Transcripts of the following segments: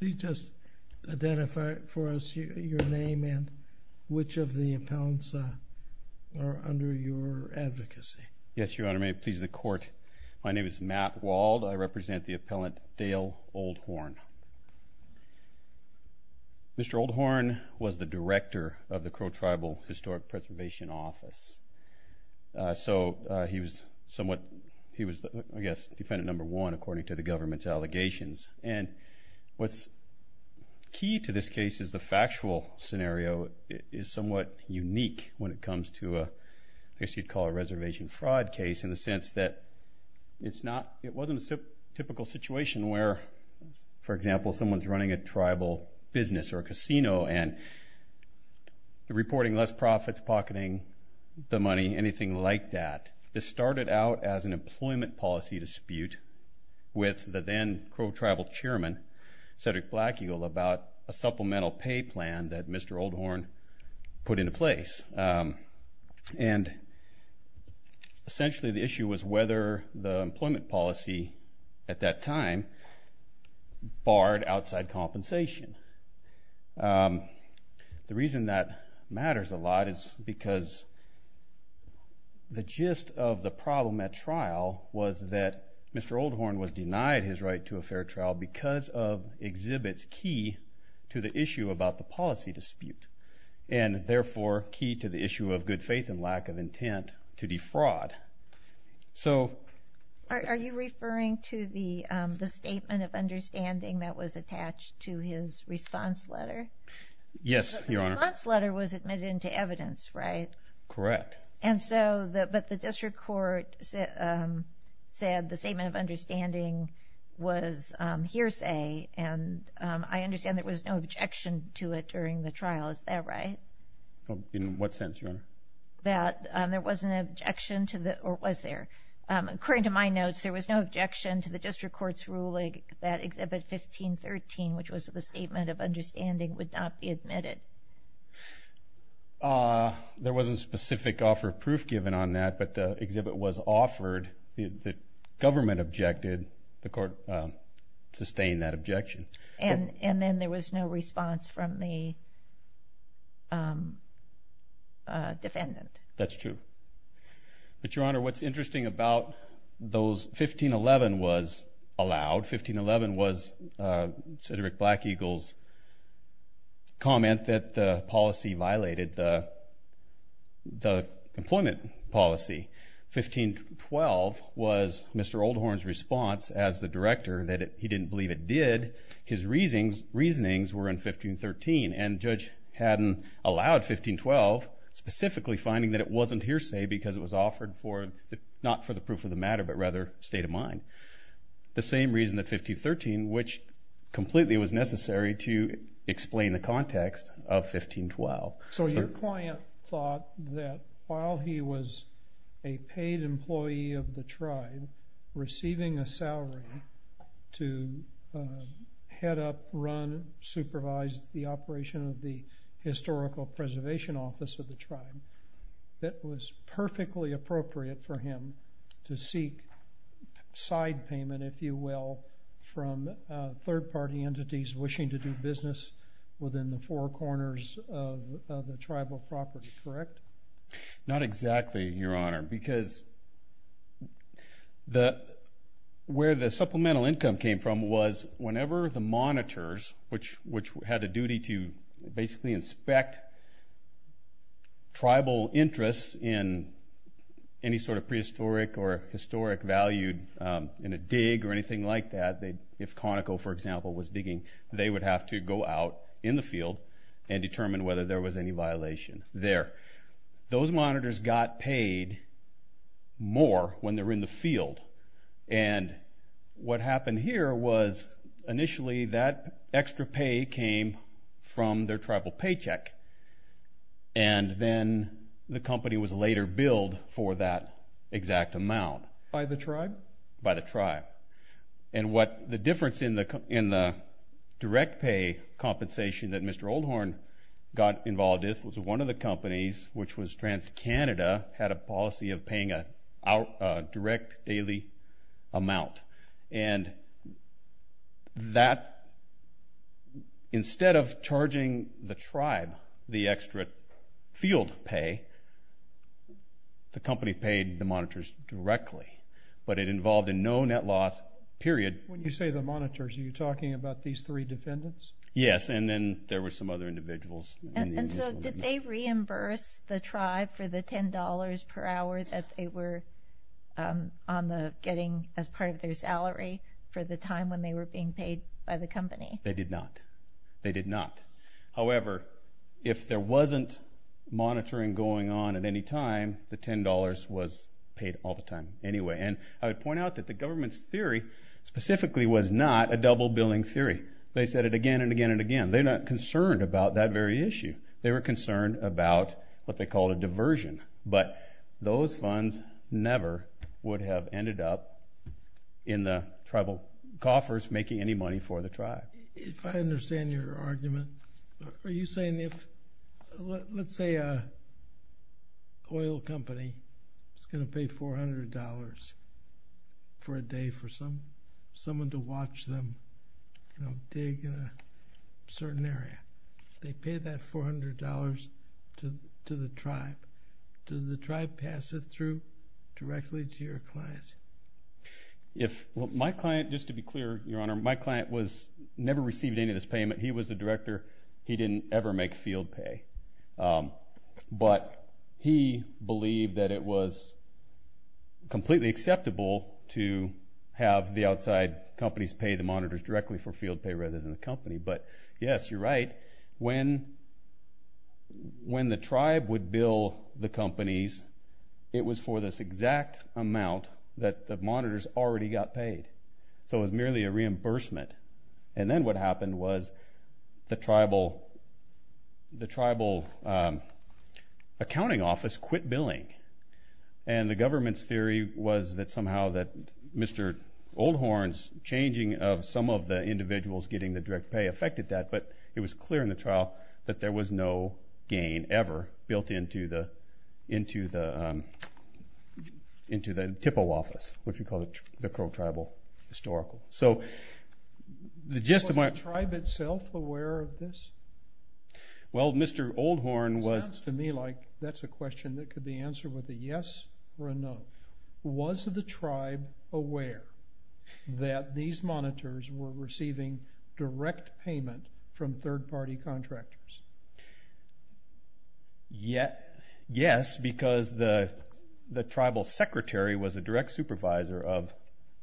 Please just identify for us your name and which of the appellants are under your advocacy. Yes, Your Honor, may it please the Court, my name is Matt Wald. I represent the appellant Dale Old Horn. Mr. Old Horn was the director of the Crow Tribal Historic Preservation Office. So he was somewhat, he was, I guess, defendant number one according to the government's allegations. And what's key to this case is the factual scenario is somewhat unique when it comes to a, I guess you'd call a reservation fraud case in the sense that it's not, it wasn't a typical situation where, for example, someone's running a tribal business or a casino and they're reporting less profits, pocketing the money, anything like that. This started out as an employment policy dispute with the then Crow Tribal Chairman, Cedric Black Eagle, about a supplemental pay plan that Mr. Old Horn put into place. And essentially the issue was whether the employment policy at that time barred outside compensation. The reason that matters a lot is because the gist of the problem at trial was that Mr. Old Horn was denied his right to a fair trial because of exhibits key to the issue about the policy dispute. And therefore key to the issue of good faith and lack of intent to defraud. So... Are you referring to the statement of understanding that was attached to his response letter? Yes, Your Honor. The response letter was admitted into evidence, right? Correct. And so, but the district court said the statement of understanding was hearsay. And I understand there was no objection to it during the trial, is that right? In what sense, Your Honor? That there was an objection to the, or was there? According to my notes, there was no objection to the district court's ruling that Exhibit 1513, which was the statement of understanding, would not be admitted. There wasn't specific offer of proof given on that, but the exhibit was offered. The government objected. The court sustained that objection. And then there was no response from the defendant. That's true. But, Your Honor, what's interesting about those, 1511 was allowed. 1511 was Cedric Black Eagle's comment that the policy violated the employment policy. 1512 was Mr. Oldhorn's response as the director that he didn't believe it did. His reasonings were in 1513, and Judge Haddon allowed 1512, specifically finding that it wasn't hearsay because it was offered not for the proof of the matter, but rather state of mind. The same reason that 1513, which completely was necessary to explain the context of 1512. So your client thought that while he was a paid employee of the tribe receiving a salary to head up, run, supervise the operation of the historical preservation office of the tribe, that was perfectly appropriate for him to seek side payment, if you will, from third-party entities wishing to do business within the four corners of the tribal property, correct? Not exactly, Your Honor, because where the supplemental income came from was whenever the monitors, which had a duty to basically inspect tribal interests in any sort of prehistoric or historic value in a dig or anything like that, if Conoco, for example, was digging, they would have to go out in the field and determine whether there was any violation there. Those monitors got paid more when they were in the field, and what happened here was initially that extra pay came from their tribal paycheck, and then the company was later billed for that exact amount. By the tribe? By the tribe. And what the difference in the direct pay compensation that Mr. Oldhorn got involved with was one of the companies, which was TransCanada, had a policy of paying a direct daily amount, and that instead of charging the tribe the extra field pay, the company paid the monitors directly, but it involved a no net loss period. When you say the monitors, are you talking about these three defendants? Yes, and then there were some other individuals. And so did they reimburse the tribe for the $10 per hour that they were getting as part of their salary for the time when they were being paid by the company? They did not. They did not. However, if there wasn't monitoring going on at any time, the $10 was paid all the time anyway, and I would point out that the government's theory specifically was not a double billing theory. They said it again and again and again. They're not concerned about that very issue. They were concerned about what they called a diversion, but those funds never would have ended up in the tribal coffers making any money for the tribe. If I understand your argument, are you saying if, let's say, an oil company is going to pay $400 for a day for someone to watch them dig a certain area, they pay that $400 to the tribe. Does the tribe pass it through directly to your client? My client, just to be clear, Your Honor, my client never received any of this payment. He was the director. He didn't ever make field pay. But he believed that it was completely acceptable to have the outside companies pay the monitors directly for field pay rather than the company. But yes, you're right. When the tribe would bill the companies, it was for this exact amount that the monitors already got paid. So it was merely a reimbursement. And then what happened was the tribal accounting office quit billing, and the government's theory was that somehow that Mr. Oldhorn's changing of some of the individuals getting the direct pay affected that, but it was clear in the trial that there was no gain ever built into the TIPO office, which we call the Crow Tribal Historical. Was the tribe itself aware of this? Well, Mr. Oldhorn was... It sounds to me like that's a question that could be answered with a yes or a no. Was the tribe aware that these monitors were receiving direct payment from third-party contractors? Yes, because the tribal secretary was a direct supervisor of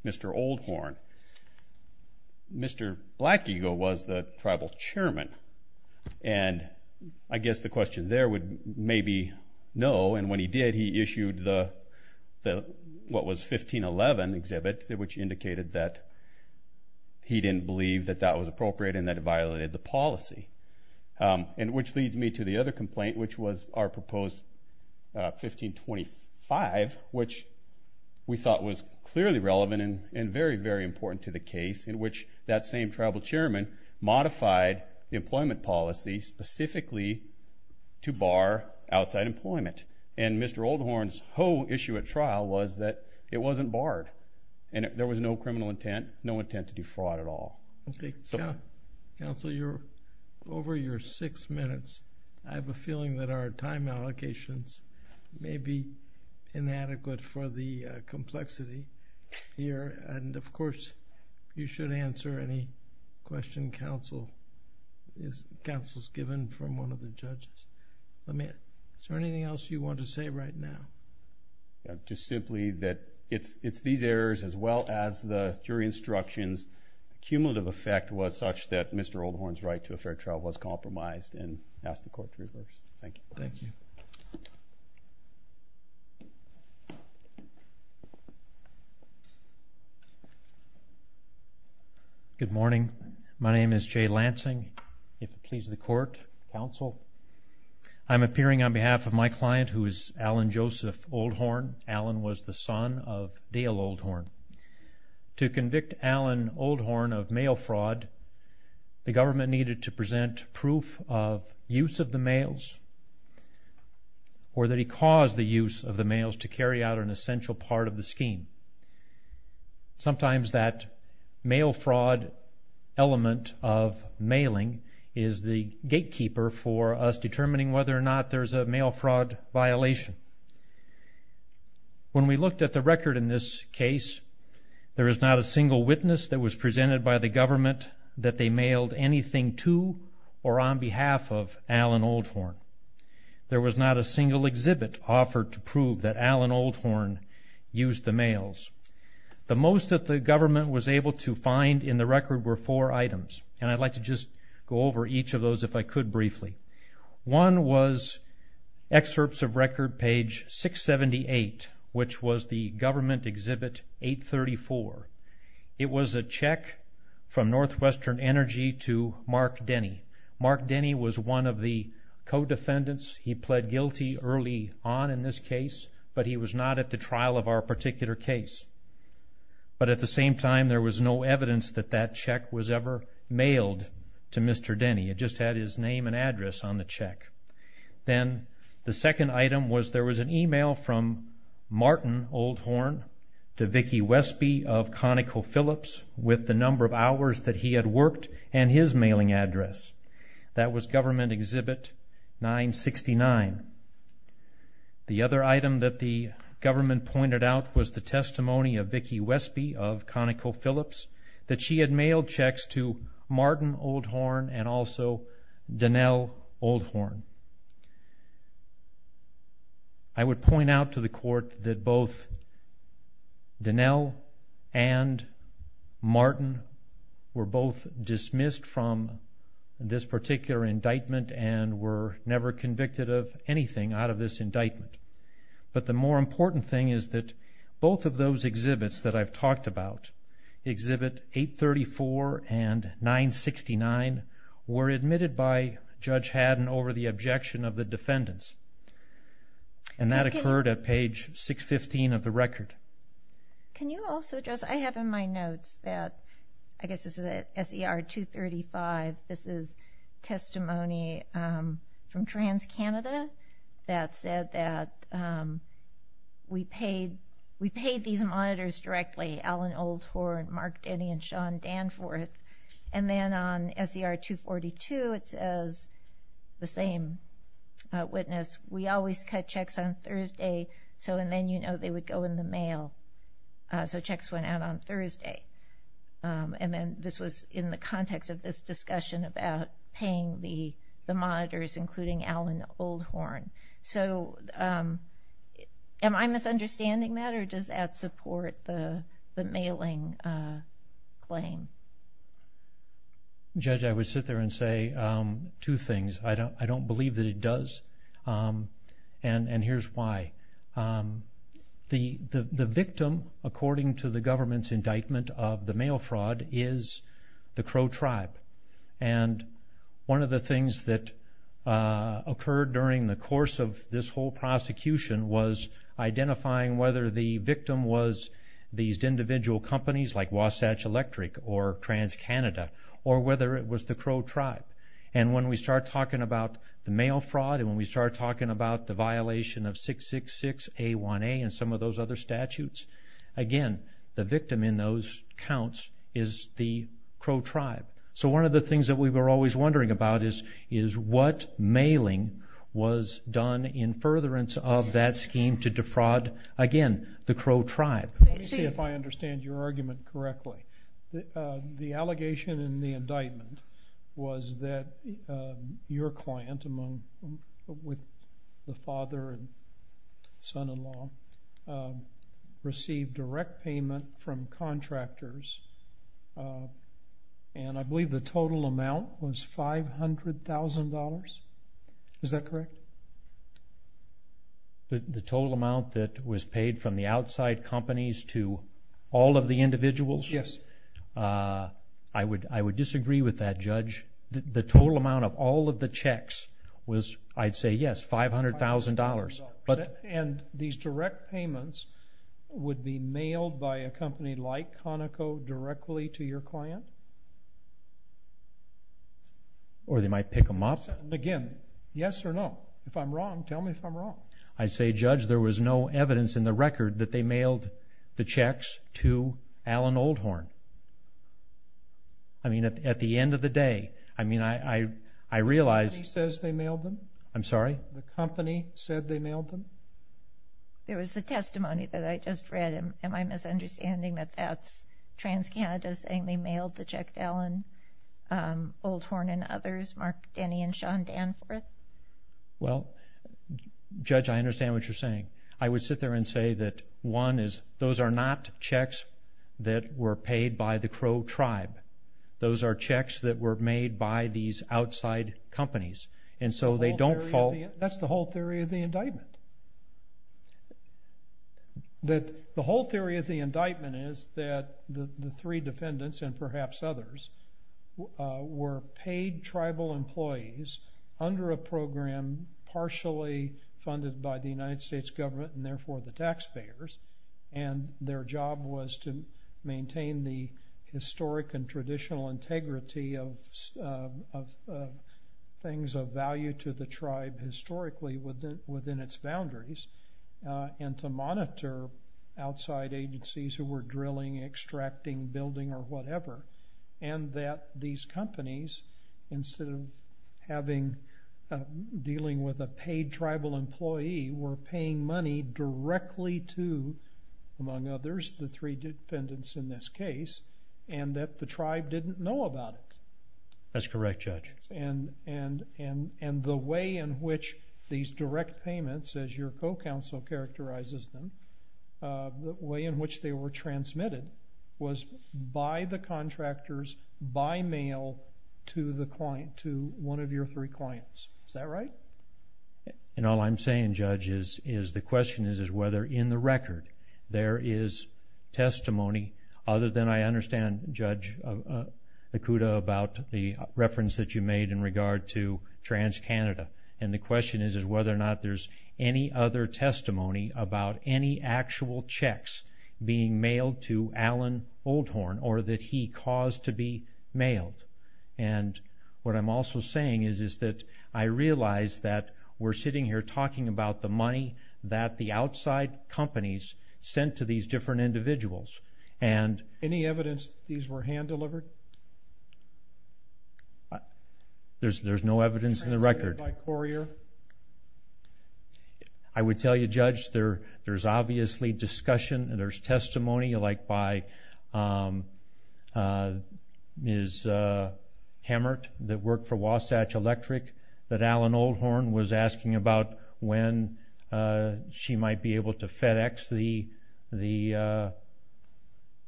Mr. Oldhorn. Mr. Black Eagle was the tribal chairman, and I guess the question there would maybe no, and when he did, he issued the what was 1511 exhibit, which indicated that he didn't believe that that was appropriate and that it violated the policy, which leads me to the other complaint, which was our proposed 1525, which we thought was clearly relevant and very, very important to the case, in which that same tribal chairman modified the employment policy specifically to bar outside employment. And Mr. Oldhorn's whole issue at trial was that it wasn't barred, and there was no criminal intent, no intent to defraud at all. Okay. Counsel, you're over your six minutes. I have a feeling that our time allocations may be inadequate for the complexity here, and, of course, you should answer any questions counsel has given from one of the judges. Is there anything else you want to say right now? Just simply that it's these errors as well as the jury instructions. The cumulative effect was such that Mr. Oldhorn's right to a fair trial was compromised, and I ask the Court to reverse. Thank you. Thank you. Good morning. My name is Jay Lansing. If it pleases the Court. Counsel. I'm appearing on behalf of my client, who is Alan Joseph Oldhorn. Alan was the son of Dale Oldhorn. To convict Alan Oldhorn of mail fraud, the government needed to present proof of use of the mails or that he caused the use of the mails to carry out an essential part of the scheme. Sometimes that mail fraud element of mailing is the gatekeeper for us determining whether or not there's a mail fraud violation. When we looked at the record in this case, there is not a single witness that was presented by the government that they mailed anything to or on behalf of Alan Oldhorn. There was not a single exhibit offered to prove that Alan Oldhorn used the mails. The most that the government was able to find in the record were four items, and I'd like to just go over each of those if I could briefly. One was excerpts of record page 678, which was the government exhibit 834. It was a check from Northwestern Energy to Mark Denny. Mark Denny was one of the co-defendants. He pled guilty early on in this case, but he was not at the trial of our particular case. But at the same time, there was no evidence that that check was ever mailed to Mr. Denny. It just had his name and address on the check. Then the second item was there was an e-mail from Martin Oldhorn to Vicki Wespe of ConocoPhillips with the number of hours that he had worked and his mailing address. That was government exhibit 969. The other item that the government pointed out was the testimony of Vicki Wespe of ConocoPhillips that she had mailed checks to Martin Oldhorn and also Donnell Oldhorn. I would point out to the court that both Donnell and Martin were both dismissed from this particular indictment and were never convicted of anything out of this indictment. But the more important thing is that both of those exhibits that I've talked about, exhibit 834 and 969, were admitted by Judge Haddon over the objection of the defendants. That occurred at page 615 of the record. Can you also address, I have in my notes that, I guess this is at SER 235, this is testimony from TransCanada that said that we paid these monitors directly, Allen Oldhorn, Mark Denny, and Sean Danforth. And then on SER 242, it says, the same witness, we always cut checks on Thursday, and then you know they would go in the mail. So checks went out on Thursday. And then this was in the context of this discussion about paying the monitors, including Allen Oldhorn. So am I misunderstanding that, or does that support the mailing claim? Judge, I would sit there and say two things. I don't believe that it does, and here's why. The victim, according to the government's indictment of the mail fraud, is the Crow tribe. And one of the things that occurred during the course of this whole prosecution was identifying whether the victim was these individual companies, like Wasatch Electric or TransCanada, or whether it was the Crow tribe. And when we start talking about the mail fraud, and when we start talking about the violation of 666A1A and some of those other statutes, again, the victim in those counts is the Crow tribe. So one of the things that we were always wondering about is what mailing was done in furtherance of that scheme to defraud, again, the Crow tribe. Let me see if I understand your argument correctly. The allegation in the indictment was that your client, with the father and son-in-law, received direct payment from contractors. And I believe the total amount was $500,000. Is that correct? The total amount that was paid from the outside companies to all of the individuals? Yes. I would disagree with that, Judge. The total amount of all of the checks was, I'd say, yes, $500,000. And these direct payments would be mailed by a company like Conoco directly to your client? Or they might pick them up. Again, yes or no? If I'm wrong, tell me if I'm wrong. I'd say, Judge, there was no evidence in the record that they mailed the checks to Alan Oldhorn. I mean, at the end of the day, I realize... Nobody says they mailed them. I'm sorry? The company said they mailed them? There was the testimony that I just read. Am I misunderstanding that that's TransCanada saying they mailed the check to Alan Oldhorn and others, Mark Denny and Sean Danforth? Well, Judge, I understand what you're saying. I would sit there and say that, one, those are not checks that were paid by the Crow tribe. Those are checks that were made by these outside companies. And so they don't fall... That's the whole theory of the indictment. The whole theory of the indictment is that the three defendants and perhaps others were paid tribal employees under a program partially funded by the United States government and therefore the taxpayers, and their job was to maintain the historic and traditional integrity of things of value to the tribe historically within its boundaries and to monitor outside agencies who were drilling, extracting, building, or whatever, and that these companies, instead of dealing with a paid tribal employee, were paying money directly to, among others, the three defendants in this case, and that the tribe didn't know about it. That's correct, Judge. And the way in which these direct payments, as your co-counsel characterizes them, the way in which they were transmitted was by the contractors by mail to one of your three clients. Is that right? And all I'm saying, Judge, is the question is whether in the record there is testimony other than I understand, Judge Nakuda, about the reference that you made in regard to TransCanada, and the question is whether or not there's any other testimony about any actual checks being mailed to Alan Oldhorn or that he caused to be mailed. And what I'm also saying is that I realize that we're sitting here talking about the money that the outside companies sent to these different individuals. Any evidence that these were hand-delivered? There's no evidence in the record. Transmitted by courier? I would tell you, Judge, there's obviously discussion and there's testimony like by Ms. Hammert that worked for Wasatch Electric that Alan Oldhorn was asking about when she might be able to FedEx the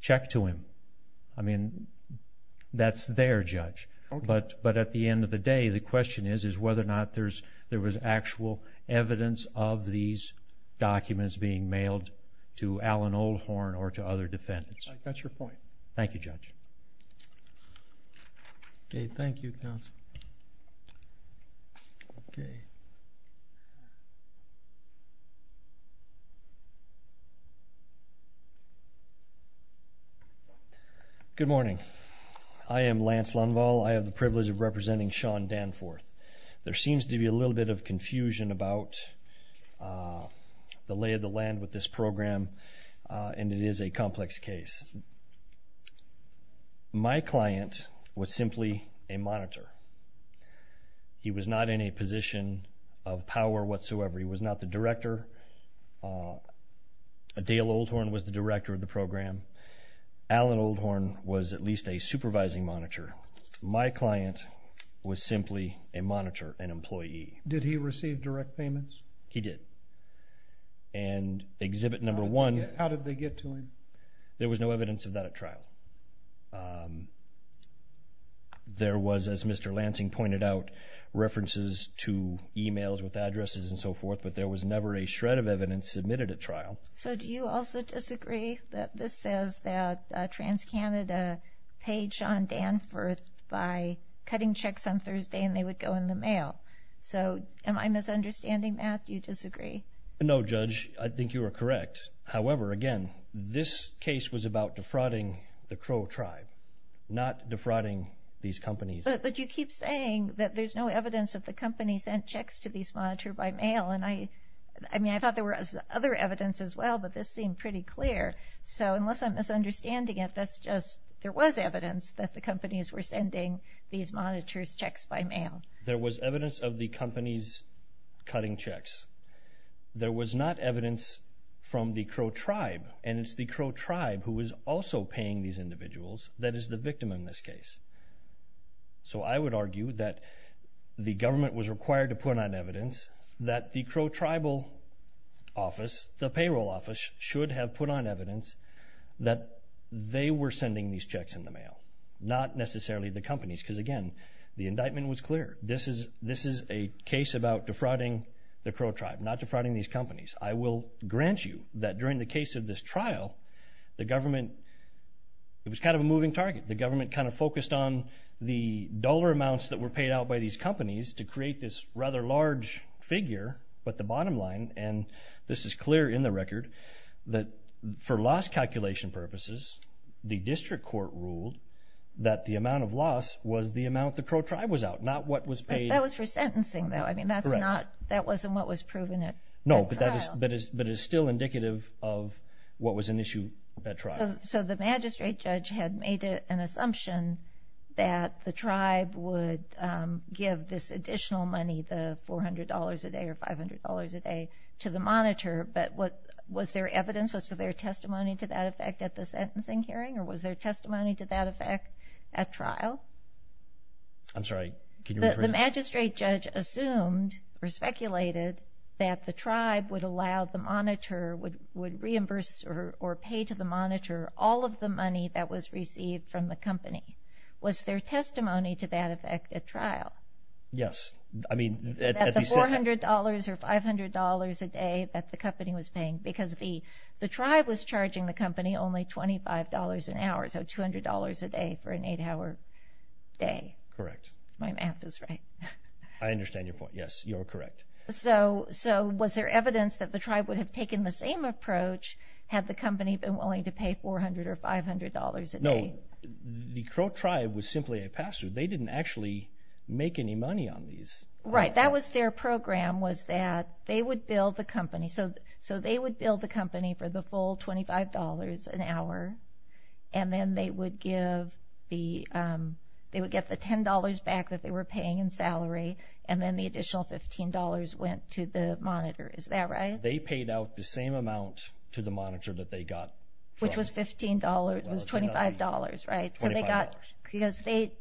check to him. I mean, that's there, Judge. But at the end of the day, the question is whether or not there was actual evidence of these documents being mailed to Alan Oldhorn or to other defendants. That's your point. Thank you, Judge. Okay, thank you, counsel. Good morning. I am Lance Lundvall. I have the privilege of representing Sean Danforth. There seems to be a little bit of confusion about the lay of the land with this program, and it is a complex case. My client was simply a monitor. He was not in a position of power whatsoever. He was not the director. Dale Oldhorn was the director of the program. Alan Oldhorn was at least a supervising monitor. My client was simply a monitor, an employee. Did he receive direct payments? He did. And exhibit number one... How did they get to him? There was no evidence of that at trial. There was, as Mr. Lansing pointed out, references to e-mails with addresses and so forth, but there was never a shred of evidence submitted at trial. So do you also disagree that this says that TransCanada paid Sean Danforth by cutting checks on Thursday and they would go in the mail? So am I misunderstanding that? Do you disagree? No, Judge. I think you are correct. However, again, this case was about defrauding the Crow tribe, not defrauding these companies. But you keep saying that there's no evidence that the company sent checks to these monitors by mail, and I thought there was other evidence as well, but this seemed pretty clear. So unless I'm misunderstanding it, that's just there was evidence that the companies were sending these monitors checks by mail. There was evidence of the companies cutting checks. There was not evidence from the Crow tribe, and it's the Crow tribe who is also paying these individuals that is the victim in this case. So I would argue that the government was required to put on evidence that the Crow tribal office, the payroll office, should have put on evidence that they were sending these checks in the mail, not necessarily the companies, because again, the indictment was clear. This is a case about defrauding the Crow tribe, not defrauding these companies. I will grant you that during the case of this trial, the government was kind of a moving target. The government kind of focused on the dollar amounts that were paid out by these companies to create this rather large figure, but the bottom line, and this is clear in the record, that for loss calculation purposes, the district court ruled that the amount of loss was the amount the Crow tribe was out, not what was paid. That was for sentencing, though. That wasn't what was proven at trial. No, but it is still indicative of what was an issue at trial. So the magistrate judge had made an assumption that the tribe would give this additional money, the $400 a day or $500 a day, to the monitor, but was there evidence, was there testimony to that effect at the sentencing hearing, or was there testimony to that effect at trial? I'm sorry, can you repeat that? The magistrate judge assumed or speculated that the tribe would allow the monitor, would reimburse or pay to the monitor all of the money that was received from the company. Was there testimony to that effect at trial? Yes. That the $400 or $500 a day that the company was paying, because the tribe was charging the company only $25 an hour, so $200 a day for an 8-hour day. Correct. My math is right. I understand your point, yes, you're correct. So was there evidence that the tribe would have taken the same approach had the company been willing to pay $400 or $500 a day? No, the Crow tribe was simply a pastor. They didn't actually make any money on these. Right, that was their program, was that they would bill the company, so they would bill the company for the full $25 an hour, and then they would get the $10 back that they were paying in salary, and then the additional $15 went to the monitor, is that right? They paid out the same amount to the monitor that they got. Which was $15, it was $25, right? $25. Because they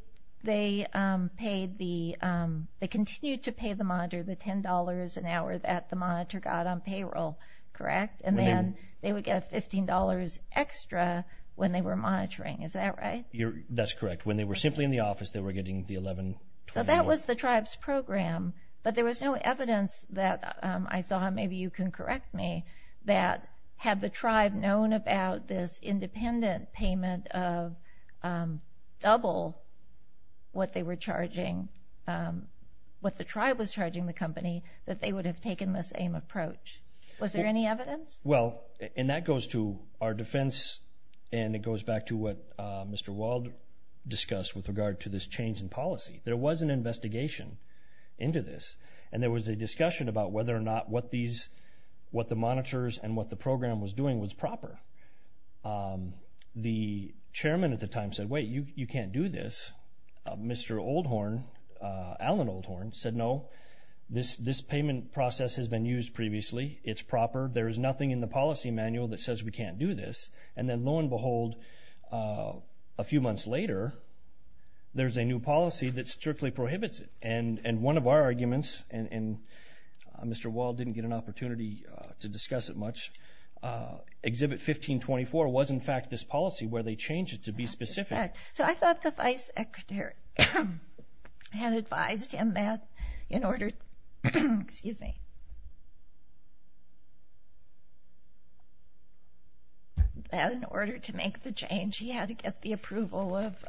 continued to pay the monitor the $10 an hour that the monitor got on payroll, correct? And then they would get $15 extra when they were monitoring, is that right? That's correct. When they were simply in the office, they were getting the $11. So that was the tribe's program, but there was no evidence that I saw, maybe you can correct me, that had the tribe known about this independent payment of double what they were charging, what the tribe was charging the company, that they would have taken the same approach. Was there any evidence? Well, and that goes to our defense, and it goes back to what Mr. Wald discussed with regard to this change in policy. There was an investigation into this, and there was a discussion about whether or not what the monitors and what the program was doing was proper. The chairman at the time said, wait, you can't do this. Mr. Oldhorn, Alan Oldhorn, said no. This payment process has been used previously. It's proper. There is nothing in the policy manual that says we can't do this. And then lo and behold, a few months later, there's a new policy that strictly prohibits it. And one of our arguments, and Mr. Wald didn't get an opportunity to discuss it much, Exhibit 1524 was, in fact, this policy where they changed it to be specific. So I thought the vice secretary had advised him that in order to make the change, he had to get the approval of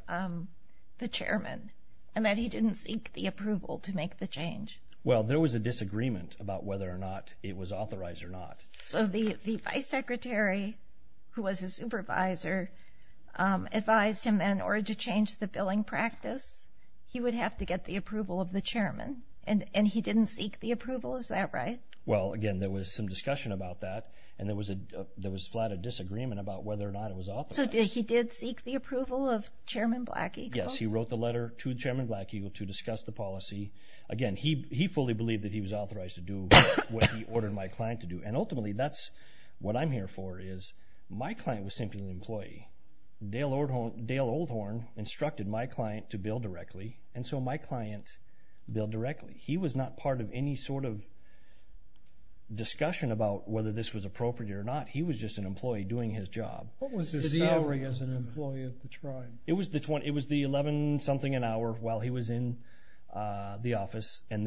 the chairman, and that he didn't seek the approval to make the change. Well, there was a disagreement about whether or not it was authorized or not. So the vice secretary, who was his supervisor, advised him that in order to change the billing practice, he would have to get the approval of the chairman, and he didn't seek the approval? Is that right? Well, again, there was some discussion about that, and there was a flat of disagreement about whether or not it was authorized. So he did seek the approval of Chairman Black Eagle? Yes, he wrote the letter to Chairman Black Eagle to discuss the policy. Again, he fully believed that he was authorized to do what he ordered my client to do. And ultimately, that's what I'm here for is my client was simply an employee. Dale Oldhorn instructed my client to bill directly, and so my client billed directly. He was not part of any sort of discussion about whether this was appropriate or not. He was just an employee doing his job. What was his salary as an employee of the tribe? It was the $11-something an hour while he was in the office How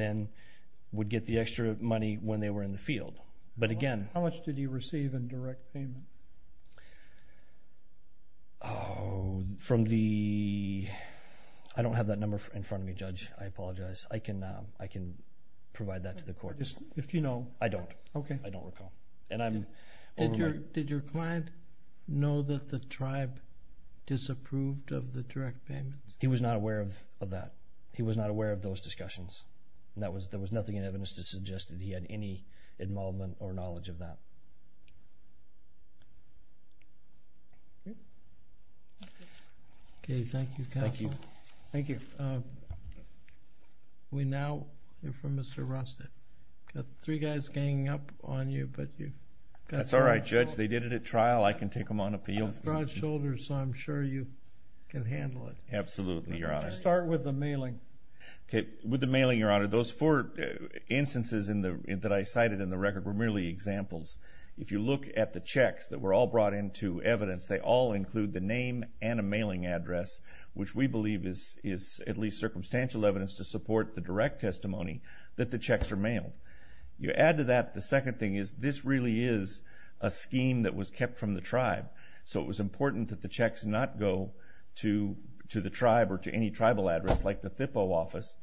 much did he receive in direct payment? I don't have that number in front of me, Judge, I apologize. I can provide that to the court. If you know. I don't. I don't recall. Did your client know that the tribe disapproved of the direct payments? He was not aware of that. He was not aware of those discussions. There was nothing in evidence to suggest that he had any involvement or knowledge of that. Okay, thank you, Counselor. Thank you. We now hear from Mr. Rosted. We've got three guys ganging up on you, but you've got three people. That's all right, Judge. They did it at trial. I can take them on appeal. I'm broad-shouldered, so I'm sure you can handle it. Absolutely, Your Honor. Let's start with the mailing. Okay. With the mailing, Your Honor, those four instances that I cited in the record were merely examples. If you look at the checks that were all brought into evidence, they all include the name and a mailing address, which we believe is at least circumstantial evidence to support the direct testimony that the checks are mailed. You add to that the second thing is this really is a scheme that was kept from the tribe, so it was important that the checks not go to the tribe or to any tribal address like the THPO office,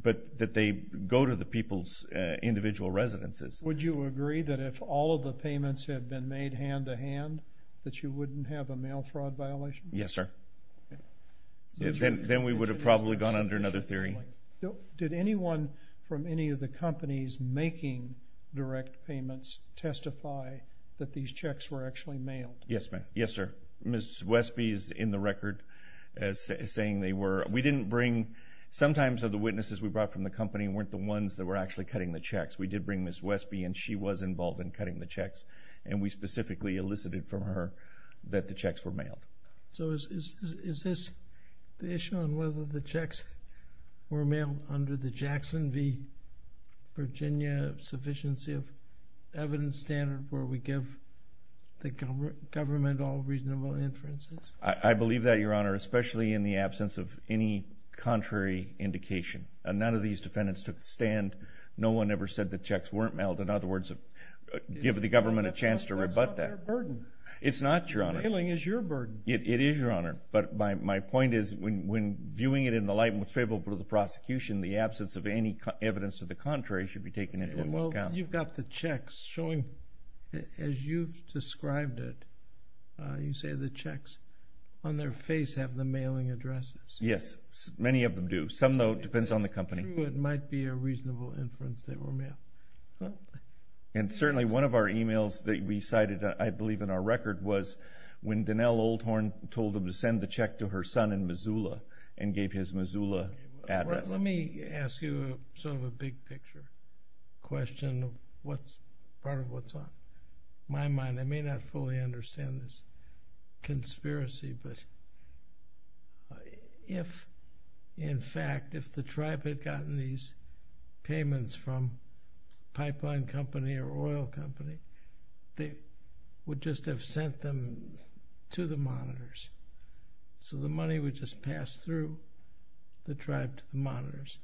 but that they go to the people's individual residences. Would you agree that if all of the payments had been made hand-to-hand that you wouldn't have a mail fraud violation? Yes, sir. Then we would have probably gone under another theory. Did anyone from any of the companies making direct payments testify that these checks were actually mailed? Yes, ma'am. Yes, sir. Ms. Wesby is in the record saying they were. We didn't bring. Sometimes of the witnesses we brought from the company weren't the ones that were actually cutting the checks. We did bring Ms. Wesby, and she was involved in cutting the checks, and we specifically elicited from her that the checks were mailed. So is this the issue on whether the checks were mailed under the Jackson v. Virginia sufficiency of evidence standard where we give the government all reasonable inferences? I believe that, Your Honor, especially in the absence of any contrary indication. None of these defendants took the stand. No one ever said the checks weren't mailed. In other words, give the government a chance to rebut that. That's not their burden. It's not, Your Honor. Mailing is your burden. It is, Your Honor. But my point is when viewing it in the light and what's favorable to the prosecution, the absence of any evidence of the contrary should be taken into account. Well, you've got the checks showing, as you've described it, you say the checks on their face have the mailing addresses. Yes, many of them do. Some, though, depends on the company. It might be a reasonable inference they were mailed. And certainly one of our emails that we cited, I believe in our record, was when Donnell Oldhorn told them to send the check to her son in Missoula and gave his Missoula address. Let me ask you sort of a big-picture question of part of what's on my mind. I may not fully understand this conspiracy, but if, in fact, if the tribe had gotten these payments from a pipeline company or oil company, they would just have sent them to the monitors. So the money would just pass through the tribe to the monitors.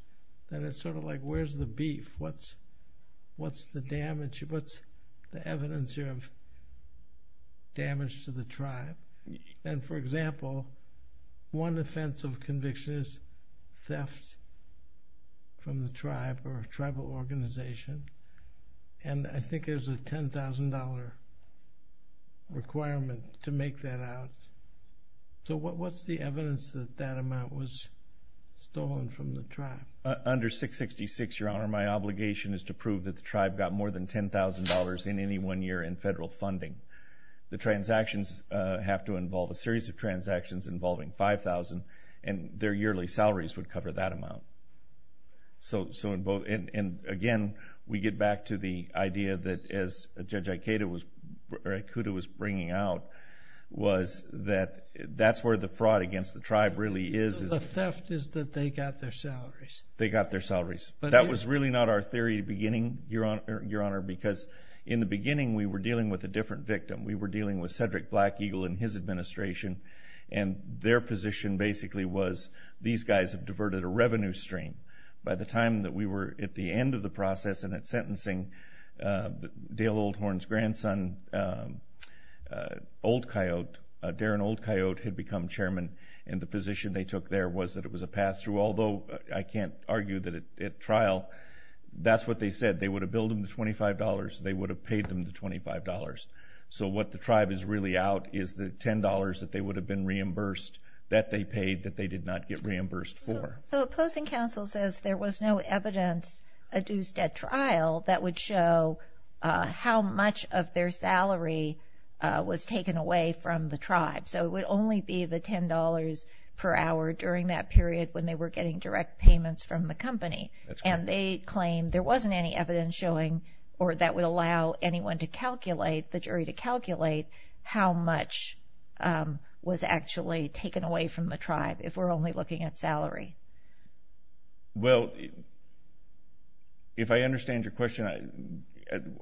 Then it's sort of like where's the beef? What's the evidence here of damage to the tribe? And, for example, one offense of conviction is theft from the tribe or a tribal organization. And I think there's a $10,000 requirement to make that out. So what's the evidence that that amount was stolen from the tribe? Under 666, Your Honor, my obligation is to prove that the tribe got more than $10,000 in any one year in federal funding. The transactions have to involve a series of transactions involving $5,000, and their yearly salaries would cover that amount. And, again, we get back to the idea that, as Judge Ikeda was bringing out, was that that's where the fraud against the tribe really is. The theft is that they got their salaries. They got their salaries. That was really not our theory at the beginning, Your Honor, because in the beginning we were dealing with a different victim. We were dealing with Cedric Black Eagle and his administration, and their position basically was these guys have diverted a revenue stream. By the time that we were at the end of the process and at sentencing, Dale Oldhorn's grandson, Old Coyote, Darren Old Coyote, had become chairman, and the position they took there was that it was a pass-through, although I can't argue that at trial that's what they said. They would have billed them the $25. They would have paid them the $25. So what the tribe is really out is the $10 that they would have been reimbursed, that they paid that they did not get reimbursed for. So opposing counsel says there was no evidence adduced at trial that would show how much of their salary was taken away from the tribe. So it would only be the $10 per hour during that period when they were getting direct payments from the company. And they claim there wasn't any evidence showing or that would allow anyone to calculate, the jury to calculate, how much was actually taken away from the tribe if we're only looking at salary. Well, if I understand your question,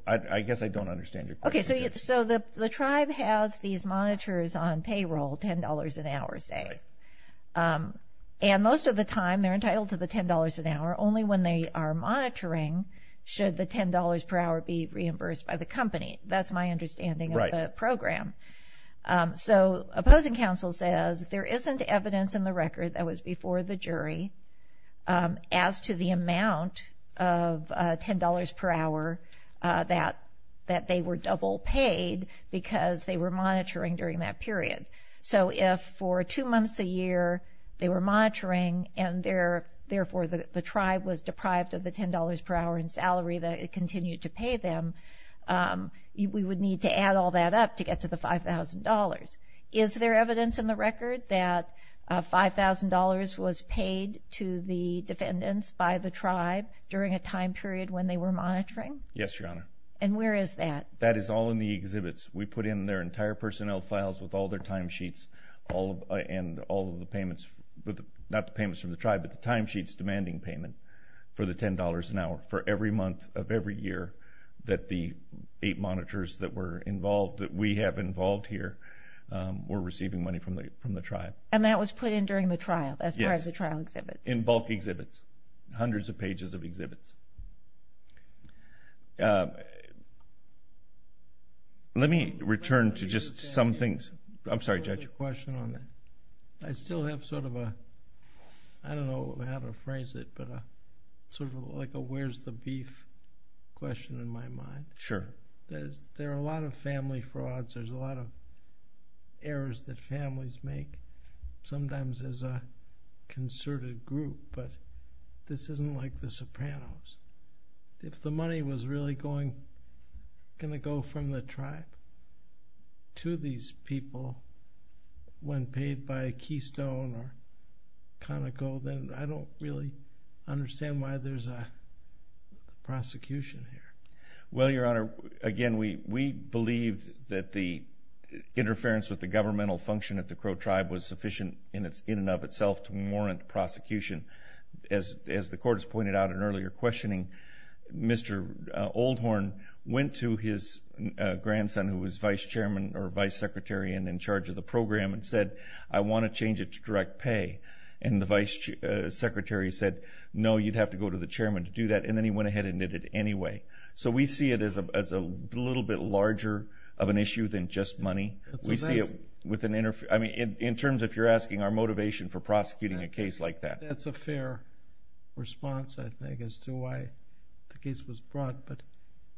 I guess I don't understand your question. Okay, so the tribe has these monitors on payroll, $10 an hour, say. And most of the time they're entitled to the $10 an hour only when they are monitoring should the $10 per hour be reimbursed by the company. That's my understanding of the program. So opposing counsel says there isn't evidence in the record that was before the jury as to the amount of $10 per hour that they were double paid because they were monitoring during that period. So if for two months a year they were monitoring and therefore the tribe was deprived of the $10 per hour in salary that it continued to pay them, we would need to add all that up to get to the $5,000. Is there evidence in the record that $5,000 was paid to the defendants by the tribe during a time period when they were monitoring? Yes, Your Honor. And where is that? That is all in the exhibits. We put in their entire personnel files with all their timesheets and all of the payments, not the payments from the tribe, but the timesheets demanding payment for the $10 an hour for every month of every year that the eight monitors that were involved, that we have involved here, were receiving money from the tribe. And that was put in during the trial as part of the trial exhibits? Yes, in bulk exhibits, hundreds of pages of exhibits. Let me return to just some things. I'm sorry, Judge. I have a question on that. I still have sort of a, I don't know how to phrase it, but sort of like a where's the beef question in my mind. Sure. There are a lot of family frauds. There's a lot of errors that families make sometimes as a concerted group, but this isn't like the Sopranos. If the money was really going to go from the tribe to these people when paid by Keystone or Conoco, then I don't really understand why there's a prosecution here. Well, Your Honor, again, we believe that the interference with the governmental function at the Crow tribe was sufficient in and of itself to warrant prosecution. As the court has pointed out in earlier questioning, Mr. Oldhorn went to his grandson who was vice chairman or vice secretary and in charge of the program and said, I want to change it to direct pay. And the vice secretary said, no, you'd have to go to the chairman to do that, and then he went ahead and did it anyway. So we see it as a little bit larger of an issue than just money. In terms, if you're asking, our motivation for prosecuting a case like that. That's a fair response, I think, as to why the case was brought. But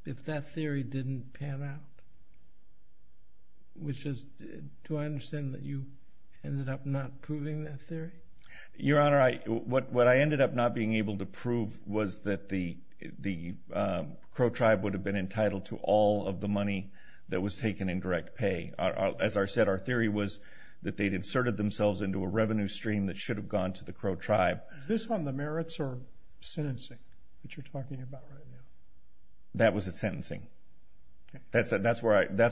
if that theory didn't pan out, do I understand that you ended up not proving that theory? Your Honor, what I ended up not being able to prove was that the Crow tribe would have been entitled to all of the money that was taken in direct pay. As I said, our theory was that they'd inserted themselves into a revenue stream that should have gone to the Crow tribe. Is this on the merits or sentencing that you're talking about right now? That was a sentencing. That's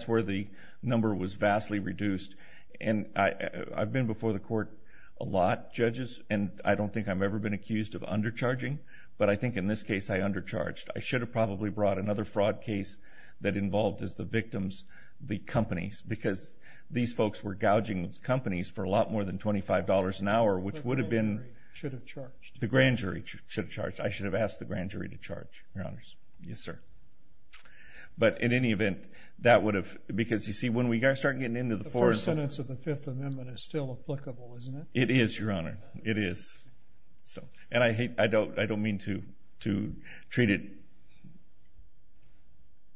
where the number was vastly reduced. And I've been before the court a lot, judges, and I don't think I've ever been accused of undercharging, but I think in this case I undercharged. I should have probably brought another fraud case that involved the victims, the companies, because these folks were gouging these companies for a lot more than $25 an hour, which would have been... The grand jury should have charged. The grand jury should have charged. I should have asked the grand jury to charge, Your Honors. Yes, sir. But in any event, that would have... Because, you see, when we start getting into the... The first sentence of the Fifth Amendment is still applicable, isn't it? It is, Your Honor. It is. And I don't mean to treat it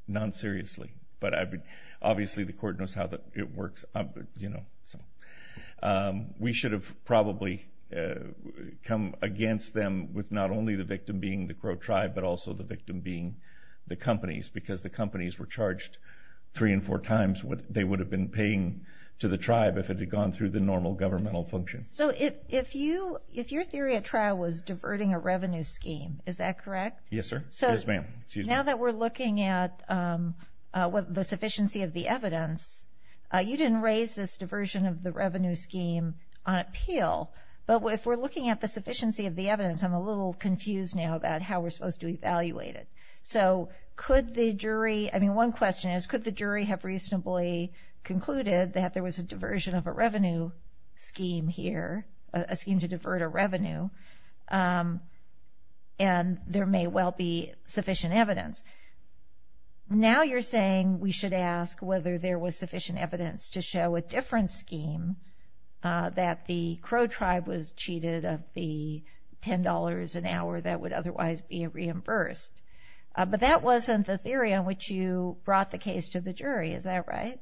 non-seriously, but obviously the court knows how it works. We should have probably come against them with not only the victim being the Crow tribe, but also the victim being the companies, because the companies were charged three and four times what they would have been paying to the tribe if it had gone through the normal governmental function. So if your theory at trial was diverting a revenue scheme, is that correct? Yes, sir. Yes, ma'am. Now that we're looking at the sufficiency of the evidence, you didn't raise this diversion of the revenue scheme on appeal, but if we're looking at the sufficiency of the evidence, I'm a little confused now about how we're supposed to evaluate it. So could the jury... I mean, one question is, could the jury have reasonably concluded that there was a diversion of a revenue scheme here, a scheme to divert a revenue, and there may well be sufficient evidence? Now you're saying we should ask whether there was sufficient evidence to show a different scheme, that the Crow tribe was cheated of the $10 an hour that would otherwise be reimbursed. But that wasn't the theory on which you brought the case to the jury. Is that right?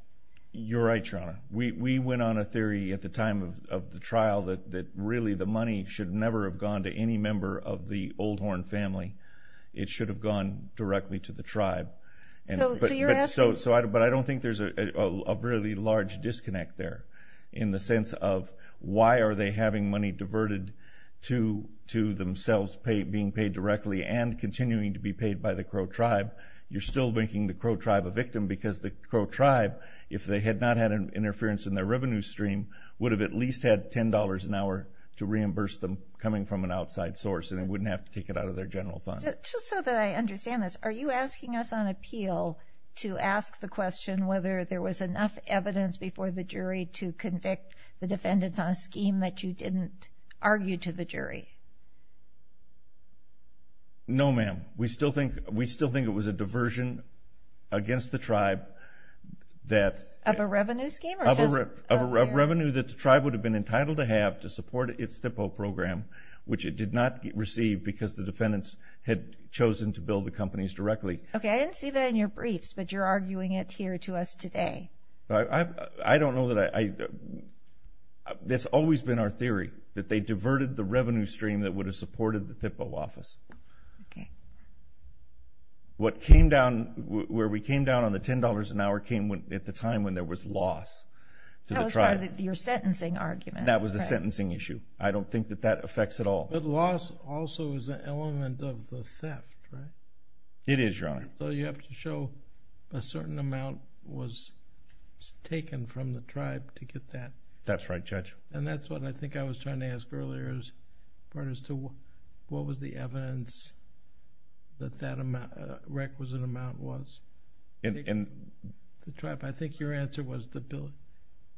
You're right, Your Honor. We went on a theory at the time of the trial that really the money should never have gone to any member of the Oldhorn family. It should have gone directly to the tribe. So you're asking... But I don't think there's a really large disconnect there in the sense of why are they having money diverted to themselves being paid directly and continuing to be paid by the Crow tribe. You're still making the Crow tribe a victim because the Crow tribe, if they had not had interference in their revenue stream, would have at least had $10 an hour to reimburse them coming from an outside source, and they wouldn't have to take it out of their general fund. Just so that I understand this, are you asking us on appeal to ask the question whether there was enough evidence before the jury to convict the defendants on a scheme that you didn't argue to the jury? No, ma'am. We still think it was a diversion against the tribe that... Of a revenue scheme? Of a revenue that the tribe would have been entitled to have to support its THPO program, which it did not receive because the defendants had chosen to bill the companies directly. Okay, I didn't see that in your briefs, but you're arguing it here to us today. I don't know that I... That's always been our theory, that they diverted the revenue stream that would have supported the THPO office. Okay. What came down, where we came down on the $10 an hour came at the time when there was loss to the tribe. That was part of your sentencing argument. That was a sentencing issue. I don't think that that affects at all. But loss also is an element of the theft, right? It is, Your Honor. So you have to show a certain amount was taken from the tribe to get that. That's right, Judge. And that's what I think I was trying to ask earlier as far as to what was the evidence that that requisite amount was taken from the tribe. I think your answer was the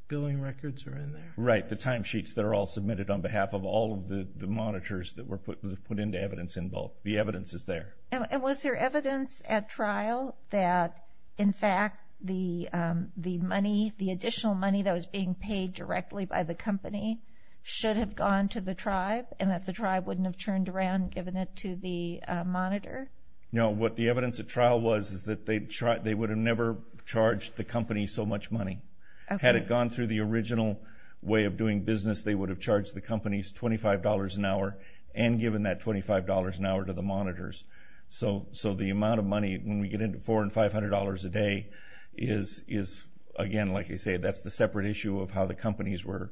billing records are in there. Right, the timesheets that are all submitted on behalf of all of the monitors that were put into evidence in both. The evidence is there. And was there evidence at trial that, in fact, the additional money that was being paid directly by the company should have gone to the tribe and that the tribe wouldn't have turned around and given it to the monitor? No, what the evidence at trial was is that they would have never charged the company so much money. Had it gone through the original way of doing business, they would have charged the companies $25 an hour and given that $25 an hour to the monitors. So the amount of money, when we get into $400 and $500 a day, is, again, like you say, that's the separate issue of how the companies were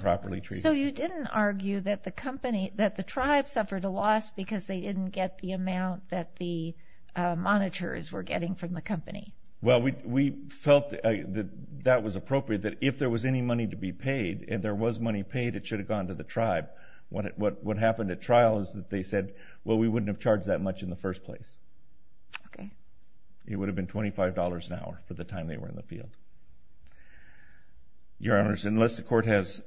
properly treated. So you didn't argue that the tribe suffered a loss because they didn't get the amount that the monitors were getting from the company? Well, we felt that that was appropriate, that if there was any money to be paid, if there was money paid, it should have gone to the tribe. What happened at trial is that they said, well, we wouldn't have charged that much in the first place. Okay. It would have been $25 an hour for the time they were in the field. Your Honors, unless the Court has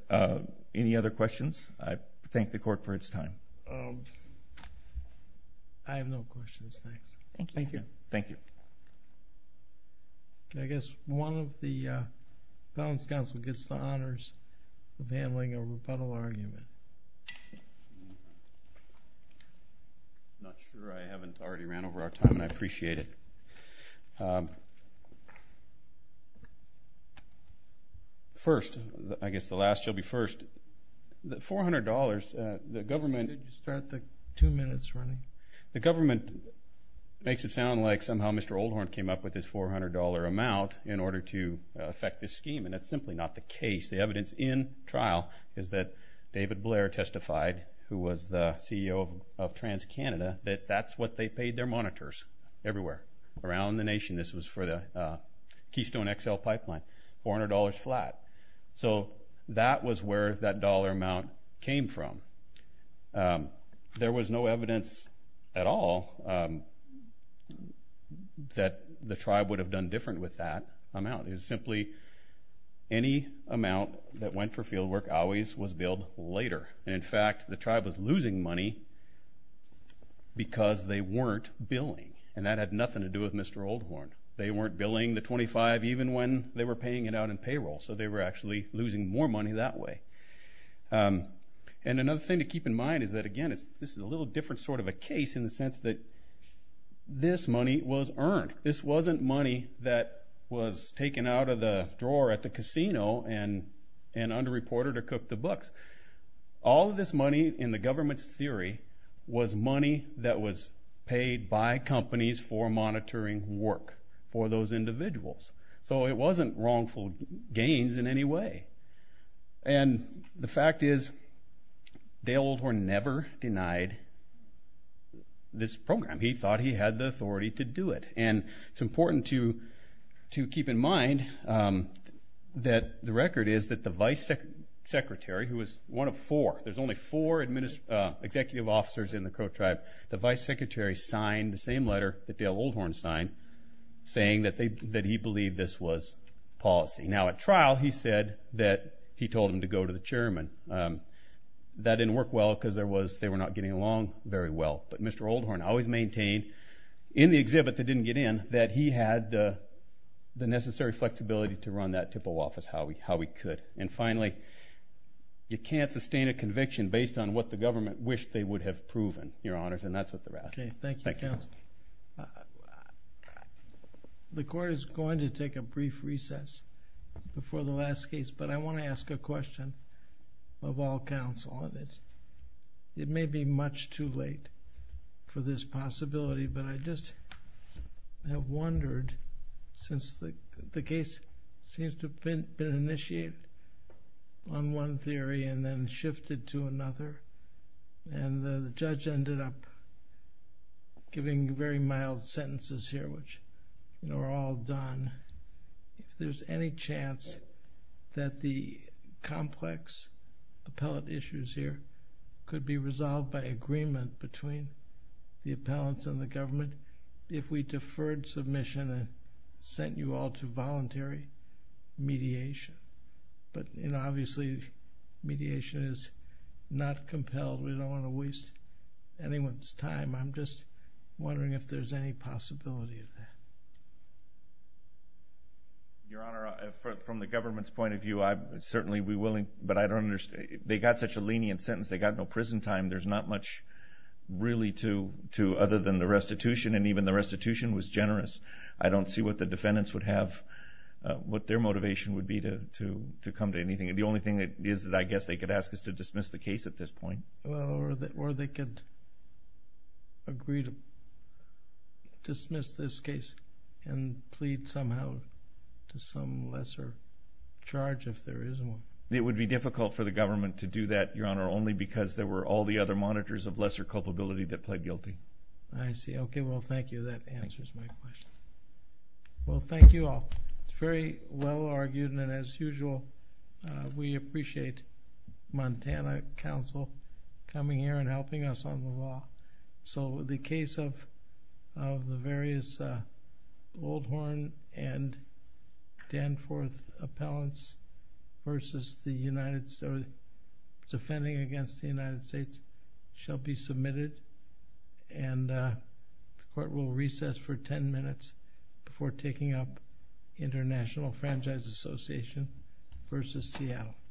any other questions, I thank the Court for its time. I have no questions, thanks. Thank you. Thank you. I guess one of the felons counsel gets the honors of handling a rebuttal argument. I'm not sure. I haven't already ran over our time, and I appreciate it. First, I guess the last shall be first. The $400, the government... Did you start the two minutes running? The government makes it sound like somehow Mr. Oldhorn came up with this $400 amount in order to affect this scheme, and that's simply not the case. The evidence in trial is that David Blair testified, who was the CEO of TransCanada, that that's what they paid their monitors everywhere around the nation. This was for the Keystone XL pipeline, $400 flat. So that was where that dollar amount came from. There was no evidence at all that the tribe would have done different with that amount. It was simply any amount that went for field work always was billed later. And in fact, the tribe was losing money because they weren't billing, and that had nothing to do with Mr. Oldhorn. They weren't billing the 25 even when they were paying it out in payroll, so they were actually losing more money that way. And another thing to keep in mind is that, again, this is a little different sort of a case in the sense that this money was earned. This wasn't money that was taken out of the drawer at the casino and underreported or cooked to books. All of this money, in the government's theory, was money that was paid by companies for monitoring work for those individuals. So it wasn't wrongful gains in any way. And the fact is, Dale Oldhorn never denied this program. He thought he had the authority to do it. And it's important to keep in mind that the record is that the vice secretary, who was one of four. There's only four executive officers in the Crow tribe. The vice secretary signed the same letter that Dale Oldhorn signed, saying that he believed this was policy. Now, at trial, he said that he told him to go to the chairman. That didn't work well because they were not getting along very well. But Mr. Oldhorn always maintained, in the exhibit that didn't get in, that he had the necessary flexibility to run that TIPO office how he could. And finally, you can't sustain a conviction based on what the government wished they would have proven, Your Honors, and that's what they're asking. Thank you, counsel. The court is going to take a brief recess before the last case, but I want to ask a question of all counsel. It may be much too late for this possibility, but I just have wondered, since the case seems to have been initiated on one theory and then shifted to another, and the judge ended up giving very mild sentences here, which are all done. If there's any chance that the complex appellate issues here could be resolved by agreement between the appellants and the government if we deferred submission and sent you all to voluntary mediation? But obviously, mediation is not compelled. We don't want to waste anyone's time. I'm just wondering if there's any possibility of that. Your Honor, from the government's point of view, I'd certainly be willing, but I don't understand. They got such a lenient sentence. They got no prison time. There's not much really to, other than the restitution, and even the restitution was generous. I don't see what the defendants would have, what their motivation would be to come to anything. The only thing is that I guess they could ask us to dismiss the case at this point. Or they could agree to dismiss this case and plead somehow to some lesser charge if there is one. It would be difficult for the government to do that, Your Honor, only because there were all the other monitors of lesser culpability that pled guilty. I see. Okay, well, thank you. That answers my question. Well, thank you all. It's very well argued, and as usual, we appreciate Montana Council coming here and helping us on the law. The case of the various Oldhorn and Danforth appellants versus the United States, defending against the United States, shall be submitted, and the court will recess for 10 minutes before taking up International Franchise Association v. Seattle.